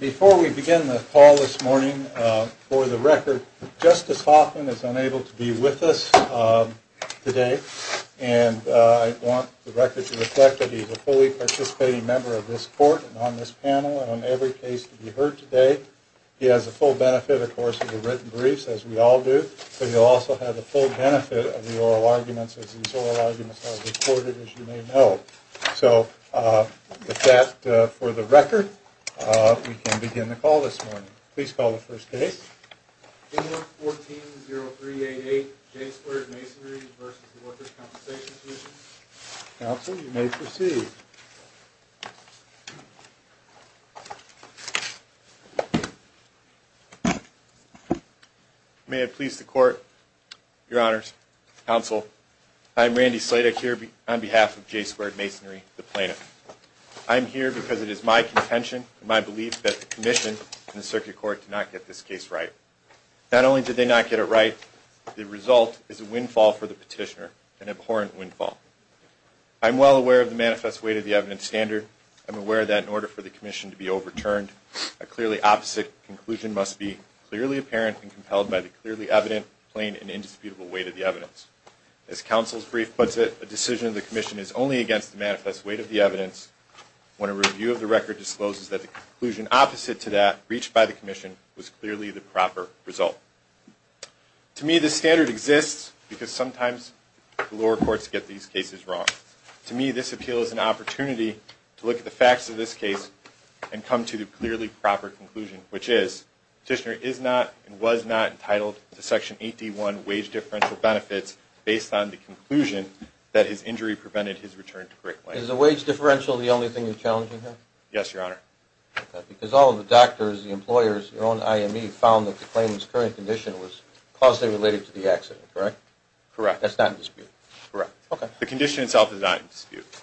Before we begin the call this morning, for the record, Justice Hoffman is unable to be with us today and I want the record to reflect that he's a fully participating member of this court and on this panel and on every case to be heard today. He has the full benefit, of course, of the written briefs, as we all do, but he'll also have the full benefit of the oral arguments as these oral arguments are recorded, as you may know. So with that, for the record, we can begin the call this morning. Please call the first case. 140388 J Squared Masonary v. Workers' Compensation Commission May it please the Court, Your Honors, Counsel, I am Randy Sleutich here on behalf of J Squared Masonary, the plaintiff. I am here because it is my contention and my belief that the Commission and the Circuit Court did not get this case right. Not only did they not get it right, the result is a windfall for the petitioner, an abhorrent windfall. I'm well aware of the manifest weight of the evidence standard. I'm aware that in order for the Commission to be overturned, a clearly opposite conclusion must be clearly apparent and compelled by the clearly evident, plain, and indisputable weight of the evidence. As Counsel's brief puts it, a decision of the Commission is only against the manifest weight of the evidence when a review of the record discloses that the conclusion opposite to that reached by the Commission was clearly the proper result. To me, this standard exists because sometimes the lower courts get these cases wrong. To me, this appeal is an opportunity to look at the facts of this case and come to the clearly proper conclusion, which is, the petitioner is not and was not entitled to Section 8D1 wage differential benefits based on the conclusion that his injury prevented his return to correct life. Is the wage differential the only thing you're challenging here? Yes, Your Honor. Because all of the doctors, the employers, your own IME found that the claimant's current condition was causally related to the accident, correct? Correct. That's not in dispute? Correct. The condition itself is not in dispute.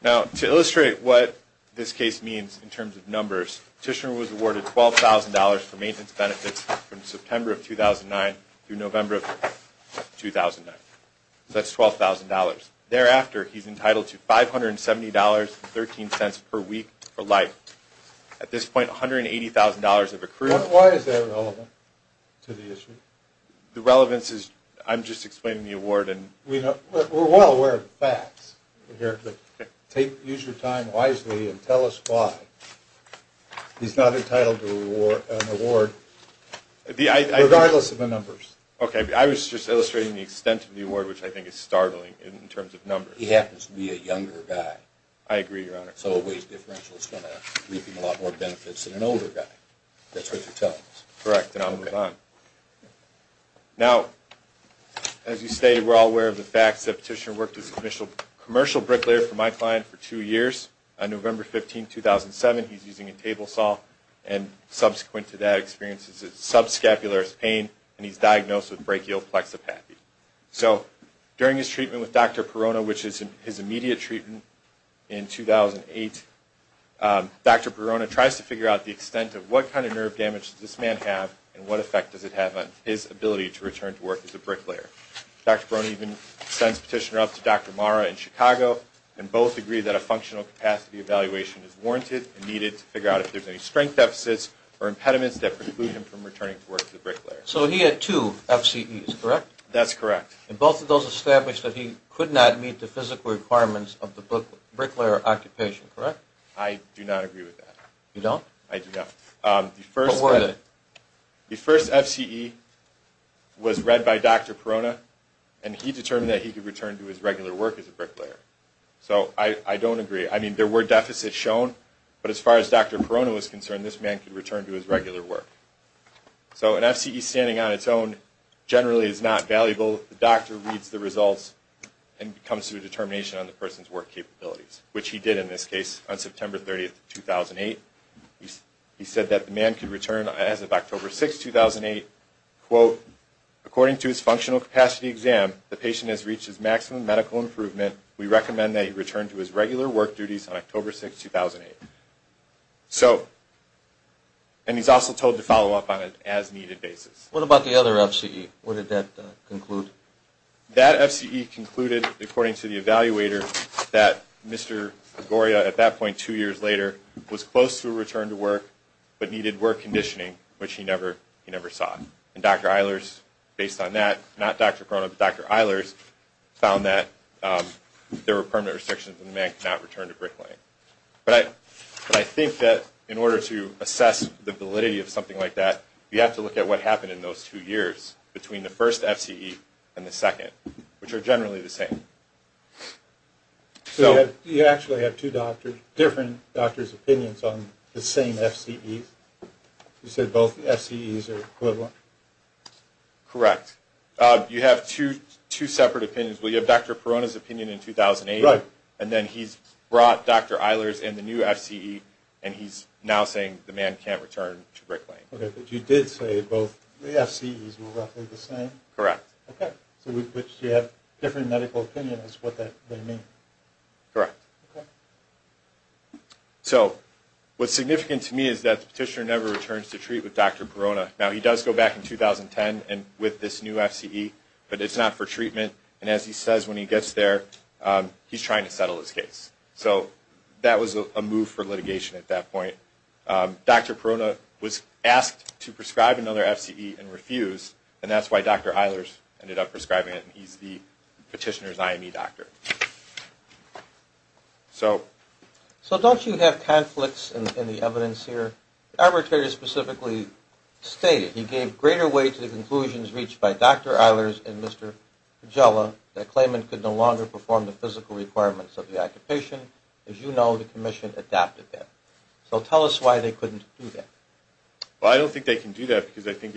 Now, to illustrate what this case means in terms of numbers, the petitioner was awarded $12,000 for maintenance benefits from September of 2009 through November of 2009. So that's $12,000. Thereafter, he's entitled to $570.13 per week for life. At this point, $180,000 have accrued. Why is that relevant to the issue? The relevance is, I'm just explaining the award. We're well aware of the facts here, but use your time wisely and tell us why he's not entitled to an award regardless of the numbers. Okay, I was just illustrating the extent of the award, which I think is startling in terms of numbers. He happens to be a younger guy. I agree, Your Honor. So a wage differential is going to reap him a lot more benefits than an older guy. That's what you're telling us. Correct, and I'll move on. Now, as you stated, we're all aware of the facts. The petitioner worked as a commercial bricklayer for my client for two years. On November 15, 2007, he's using a table saw, and subsequent to that, experiences subscapularis pain, and he's diagnosed with brachial plexipathy. So during his treatment with Dr. Perona, which is his immediate treatment in 2008, Dr. Perona tries to figure out the extent of what kind of nerve damage does this man have, and what effect does it have on his ability to return to work as a bricklayer. Dr. Perona even sends the petitioner up to Dr. Marra in Chicago, and both agree that a functional capacity evaluation is warranted and needed to figure out if there's any strength deficits or impediments that preclude him from returning to work as a bricklayer. So he had two FCEs, correct? That's correct. And both of those established that he could not meet the physical requirements of the bricklayer occupation, correct? I do not agree with that. You don't? I do not. What were they? The first FCE was read by Dr. Perona, and he determined that he could return to his regular work as a bricklayer. So I don't agree. I mean, there were deficits shown, but as far as Dr. Perona was concerned, this man could return to his regular work. So an FCE standing on its own generally is not valuable. The doctor reads the results and comes to a determination on the person's work capabilities, which he did in this case on September 30, 2008. He said that the man could return as of October 6, 2008, quote, according to his functional capacity exam, the patient has reached his maximum medical improvement. We recommend that he return to his regular work duties on October 6, 2008. So, and he's also told to follow up on an as-needed basis. What about the other FCE? What did that conclude? That FCE concluded, according to the evaluator, that Mr. Gregoria, at that point two years later, was close to a return to work but needed work conditioning, which he never saw. And Dr. Eilers, based on that, not Dr. Perona, but Dr. Eilers, found that there were permanent restrictions and the man could not return to bricklaying. But I think that in order to assess the validity of something like that, you have to look at what happened in those two years between the first FCE and the second, which are generally the same. So you actually have two different doctors' opinions on the same FCEs? You said both FCEs are equivalent? Correct. You have two separate opinions. Well, you have Dr. Perona's opinion in 2008, and then he's brought Dr. Eilers and the new FCE, and he's now saying the man can't return to bricklaying. Okay, but you did say both the FCEs were roughly the same? Correct. Okay. So you have a different medical opinion as to what that may mean. Correct. Okay. So what's significant to me is that the petitioner never returns to treat with Dr. Perona. Now, he does go back in 2010 with this new FCE, but it's not for treatment, and as he says when he gets there, he's trying to settle his case. So that was a move for litigation at that point. Dr. Perona was asked to prescribe another FCE and refused, and that's why Dr. Eilers ended up prescribing it, and he's the petitioner's IME doctor. So don't you have conflicts in the evidence here? The arbitrator specifically stated he gave greater weight to the conclusions reached by Dr. Eilers and Mr. Pagela that Klayman could no longer perform the physical requirements of the occupation. As you know, the commission adapted that. So tell us why they couldn't do that. Well, I don't think they can do that because I think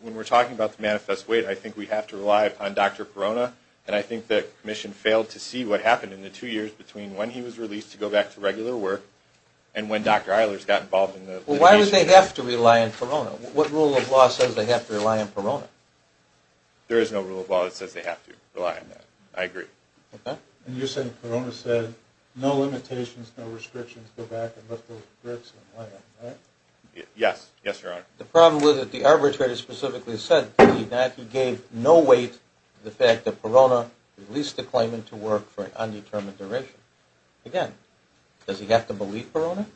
when we're talking about the manifest weight, I think we have to rely on Dr. Perona, and I think the commission failed to see what happened in the two years between when he was released to go back to regular work and when Dr. Eilers got involved in the litigation. Well, why would they have to rely on Perona? What rule of law says they have to rely on Perona? There is no rule of law that says they have to rely on that. I agree. Okay. And you're saying Perona said no limitations, no restrictions, go back and lift those bricks and lay them, right? Yes. Yes, Your Honor. The problem was that the arbitrator specifically said that he gave no weight to the fact that Perona released the claimant to work for an undetermined duration. Again, does he have to believe Perona?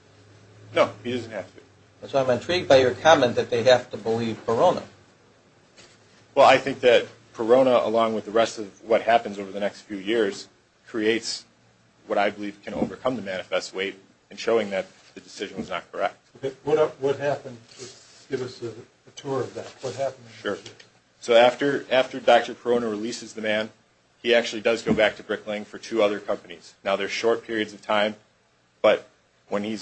No, he doesn't have to. So I'm intrigued by your comment that they have to believe Perona. Well, I think that Perona, along with the rest of what happens over the next few years, creates what I believe can overcome the manifest weight in showing that the decision was not correct. Okay. What happened? Give us a tour of that. Sure. So after Dr. Perona releases the man, he actually does go back to Brick Lane for two other companies. Now, they're short periods of time, but when he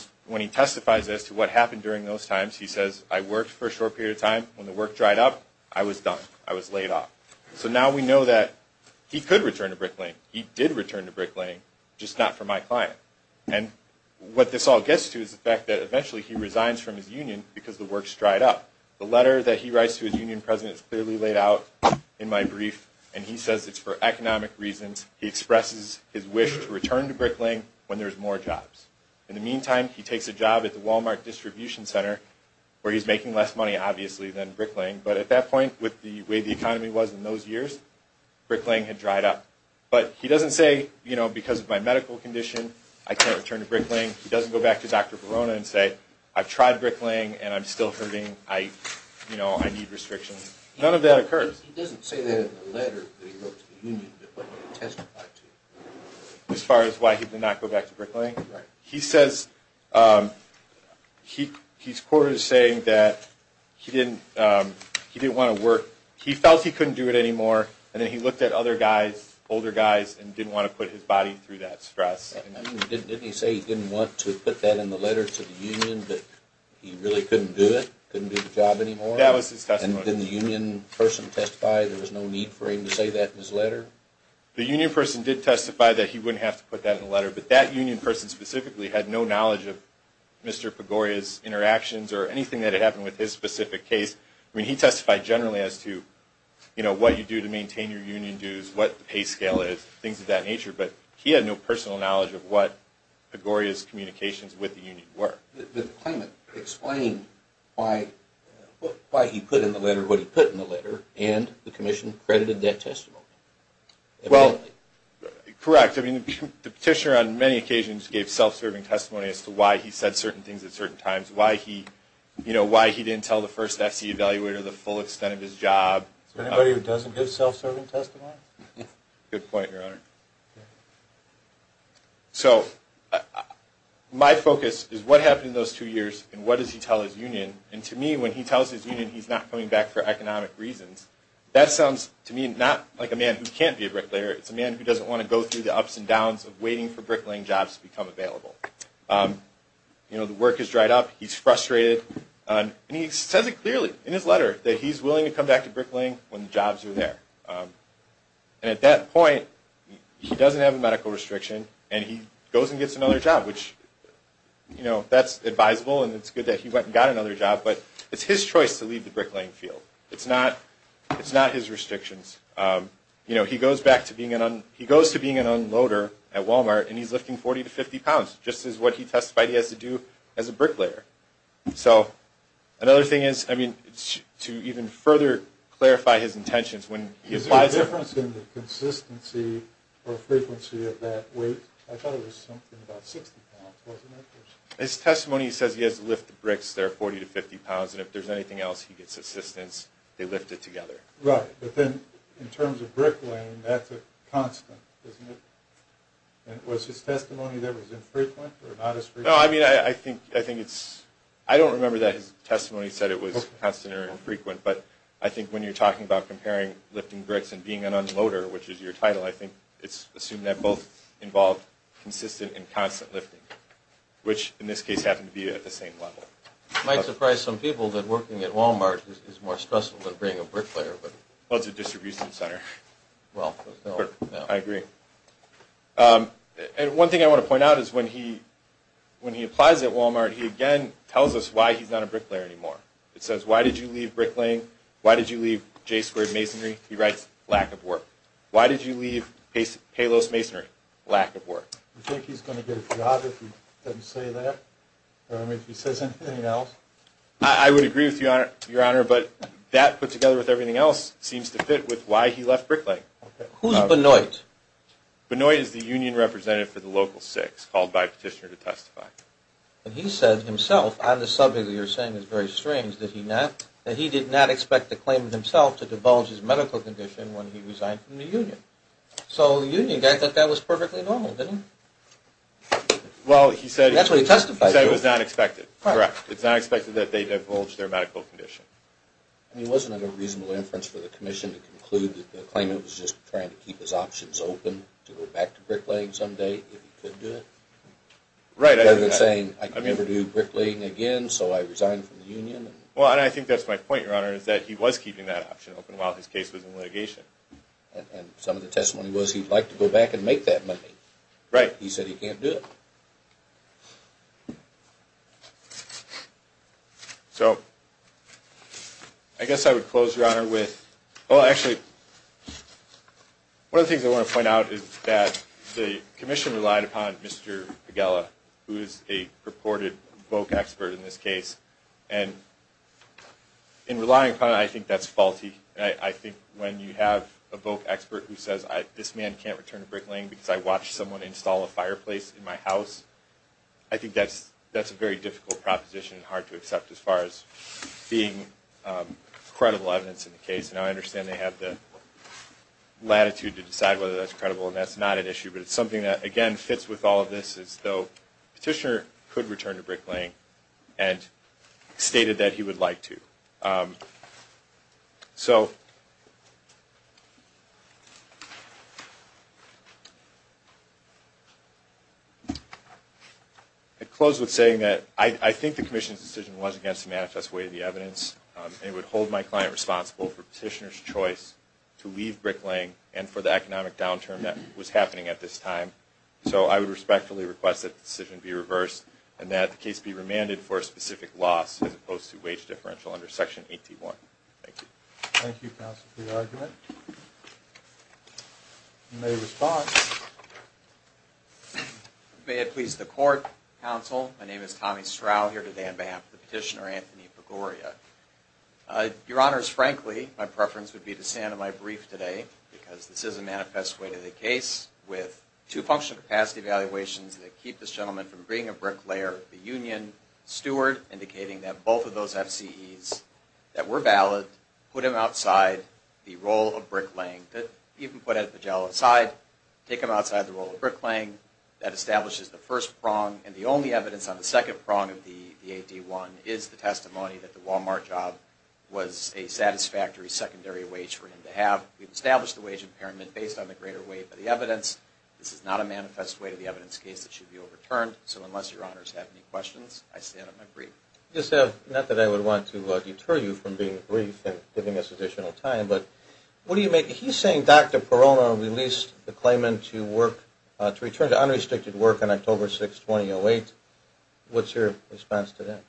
testifies as to what happened during those times, he says, I worked for a short period of time. When the work dried up, I was done. I was laid off. So now we know that he could return to Brick Lane. He did return to Brick Lane, just not for my client. And what this all gets to is the fact that eventually he resigns from his union because the work's dried up. The letter that he writes to his union president is clearly laid out in my brief, and he says it's for economic reasons. He expresses his wish to return to Brick Lane when there's more jobs. In the meantime, he takes a job at the Walmart distribution center, where he's making less money, obviously, than Brick Lane. But at that point, with the way the economy was in those years, Brick Lane had dried up. But he doesn't say, you know, because of my medical condition, I can't return to Brick Lane. He doesn't go back to Dr. Verona and say, I've tried Brick Lane, and I'm still hurting. I, you know, I need restrictions. None of that occurs. He doesn't say that in the letter that he wrote to the union that he testified to. As far as why he did not go back to Brick Lane? Right. He says he's quoted as saying that he didn't want to work. He felt he couldn't do it anymore, and then he looked at other guys, older guys, and didn't want to put his body through that stress. Didn't he say he didn't want to put that in the letter to the union, but he really couldn't do it, couldn't do the job anymore? That was his testimony. And didn't the union person testify there was no need for him to say that in his letter? The union person did testify that he wouldn't have to put that in the letter, but that union person specifically had no knowledge of Mr. Pagoria's interactions or anything that had happened with his specific case. I mean, he testified generally as to, you know, what you do to maintain your union dues, what the pay scale is, things of that nature. But he had no personal knowledge of what Pagoria's communications with the union were. Did the claimant explain why he put in the letter what he put in the letter, and the commission credited that testimony? Well, correct. I mean, the petitioner on many occasions gave self-serving testimony as to why he said certain things at certain times, why he didn't tell the first FCE evaluator the full extent of his job. Anybody who doesn't give self-serving testimony? Good point, Your Honor. So my focus is what happened in those two years, and what does he tell his union? And to me, when he tells his union he's not coming back for economic reasons, that sounds to me not like a man who can't be a bricklayer. It's a man who doesn't want to go through the ups and downs of waiting for bricklaying jobs to become available. You know, the work has dried up. He's frustrated, and he says it clearly in his letter that he's willing to come back to bricklaying when the jobs are there. And at that point, he doesn't have a medical restriction, and he goes and gets another job, which, you know, that's advisable, and it's good that he went and got another job, but it's his choice to leave the bricklaying field. It's not his restrictions. You know, he goes back to being an unloader at Walmart, and he's lifting 40 to 50 pounds, just as what he testified he has to do as a bricklayer. So another thing is, I mean, to even further clarify his intentions when he applies it. Is there a difference in the consistency or frequency of that weight? I thought it was something about 60 pounds, wasn't it? His testimony says he has to lift the bricks that are 40 to 50 pounds, and if there's anything else, he gets assistance. They lift it together. Right, but then in terms of bricklaying, that's a constant, isn't it? And was his testimony that it was infrequent or not as frequent? No, I mean, I think it's – I don't remember that his testimony said it was constant or infrequent, but I think when you're talking about comparing lifting bricks and being an unloader, which is your title, I think it's assumed that both involve consistent and constant lifting, which in this case happened to be at the same level. It might surprise some people that working at Walmart is more stressful than being a bricklayer. Well, it's a distribution center. Well, no. I agree. And one thing I want to point out is when he applies at Walmart, he again tells us why he's not a bricklayer anymore. It says, why did you leave bricklaying? Why did you leave J-squared masonry? He writes, lack of work. Why did you leave Palos Masonry? Lack of work. Do you think he's going to get a job if he doesn't say that or if he says anything else? I would agree with you, Your Honor, but that put together with everything else seems to fit with why he left bricklaying. Who's Benoit? Benoit is the union representative for the local six called by a petitioner to testify. And he said himself on the subject that you're saying is very strange that he did not expect the claimant himself to divulge his medical condition when he resigned from the union. So the union guy thought that was perfectly normal, didn't he? That's what he testified to. He said it was not expected. Correct. It's not expected that they divulge their medical condition. I mean, wasn't it a reasonable inference for the commission to conclude that the claimant was just trying to keep his options open to go back to bricklaying someday if he could do it? Right. Rather than saying, I can never do bricklaying again, so I resigned from the union. Well, and I think that's my point, Your Honor, is that he was keeping that option open while his case was in litigation. And some of the testimony was he'd like to go back and make that money. Right. He said he can't do it. So I guess I would close, Your Honor, with – well, actually, one of the things I want to point out is that the commission relied upon Mr. Pagela, who is a purported VOC expert in this case. And in relying upon him, I think that's faulty. I think when you have a VOC expert who says, this man can't return to bricklaying because I watched someone install a house, I think that's a very difficult proposition and hard to accept as far as being credible evidence in the case. And I understand they have the latitude to decide whether that's credible, and that's not an issue. But it's something that, again, fits with all of this is, though, Petitioner could return to bricklaying and stated that he would like to. So I close with saying that I think the commission's decision was against the manifest way of the evidence. It would hold my client responsible for Petitioner's choice to leave bricklaying and for the economic downturn that was happening at this time. So I would respectfully request that the decision be reversed and that the case be remanded for a specific loss as opposed to wage deferential under Section 81. Thank you. Thank you, Counsel, for your argument. You may respond. May it please the Court, Counsel, my name is Tommy Stroud, here today on behalf of the Petitioner, Anthony Pagoria. Your Honors, frankly, my preference would be to stand in my brief today because this is a manifest way to the case with two functional capacity evaluations that keep this gentleman from being a bricklayer. The union steward indicating that both of those FCEs that were valid put him outside the role of bricklaying, even put Ed Pagel aside, take him outside the role of bricklaying. That establishes the first prong. And the only evidence on the second prong of the AD-1 is the testimony that the Walmart job was a satisfactory secondary wage for him to have. We've established the wage impairment based on the greater weight of the evidence. This is not a manifest way to the evidence case that should be overturned. So unless Your Honors have any questions, I stand on my brief. I just have, not that I would want to deter you from being brief and giving us additional time, but what do you make, he's saying Dr. Perona released the claimant to work, to return to unrestricted work on October 6, 2008. What's your response to that?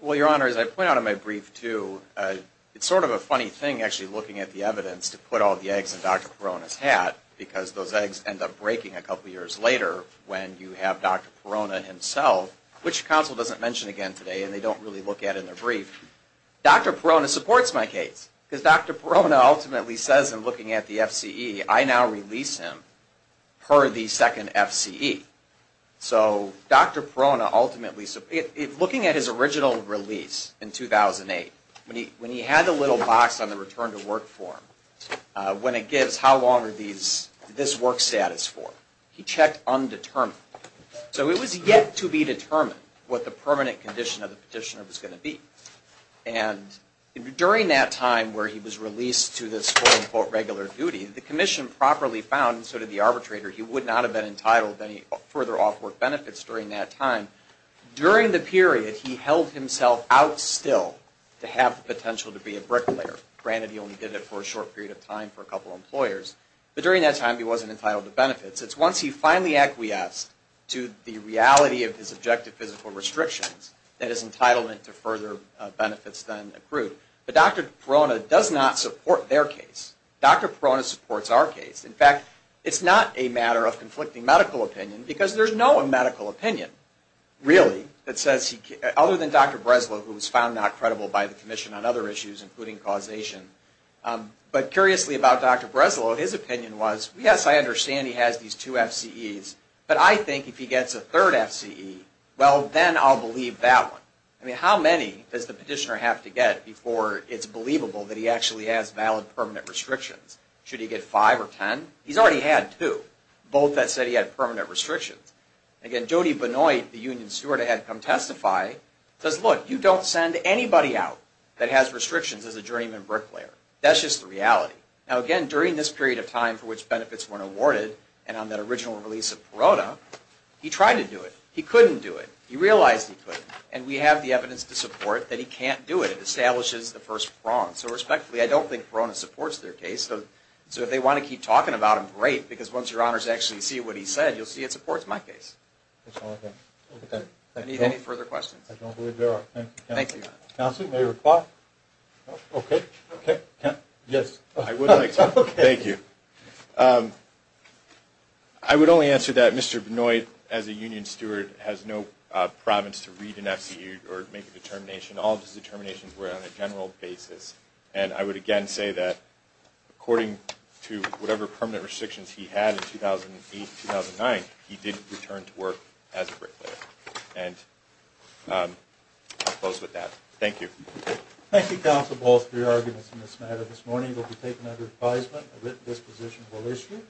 Well, Your Honors, I point out in my brief, too, it's sort of a funny thing actually looking at the evidence to put all the eggs in Dr. Perona's egg and end up breaking a couple years later when you have Dr. Perona himself, which counsel doesn't mention again today and they don't really look at in their brief. Dr. Perona supports my case because Dr. Perona ultimately says in looking at the FCE, I now release him per the second FCE. So Dr. Perona ultimately, looking at his original release in 2008, when he had the little box on the return to work form, when it gives how long are these, this work status for, he checked undetermined. So it was yet to be determined what the permanent condition of the petitioner was going to be. And during that time where he was released to this quote-unquote regular duty, the commission properly found, and so did the arbitrator, he would not have been entitled to any further off work benefits during that time. During the period, he held himself out still to have the potential to be a bricklayer. Granted, he only did it for a short period of time for a couple of employers. But during that time, he wasn't entitled to benefits. It's once he finally acquiesced to the reality of his objective physical restrictions that his entitlement to further benefits then accrued. But Dr. Perona does not support their case. Dr. Perona supports our case. In fact, it's not a matter of conflicting medical opinion because there's no medical opinion, really, other than Dr. Breslow, who was found not credible by the commission on other issues, including causation. But curiously about Dr. Breslow, his opinion was, yes, I understand he has these two FCEs, but I think if he gets a third FCE, well, then I'll believe that one. I mean, how many does the petitioner have to get before it's believable that he actually has valid permanent restrictions? Should he get five or ten? He's already had two, both that said he had permanent restrictions. Again, Jody Benoit, the union steward I had come testify, says, look, you don't send anybody out that has restrictions as a juryman bricklayer. That's just the reality. Now, again, during this period of time for which benefits weren't awarded and on that original release of Perona, he tried to do it. He couldn't do it. He realized he couldn't. And we have the evidence to support that he can't do it. It establishes the first prong. So respectfully, I don't think Perona supports their case. So if they want to keep talking about him, great, because once your honors actually see what he said, you'll see it supports my case. Any further questions? I don't believe there are. Thank you. Counsel, may I reply? Okay. Yes. I would like to. Thank you. I would only answer that Mr. Benoit, as a union steward, has no province to read an FCE or make a determination. All of his determinations were on a general basis. And I would, again, say that according to whatever permanent restrictions he had in 2008-2009, he didn't return to work as a bricklayer. And I'll close with that. Thank you. Thank you, counsel, both for your arguments in this matter. This morning will be taken under advisement. A written disposition will issue.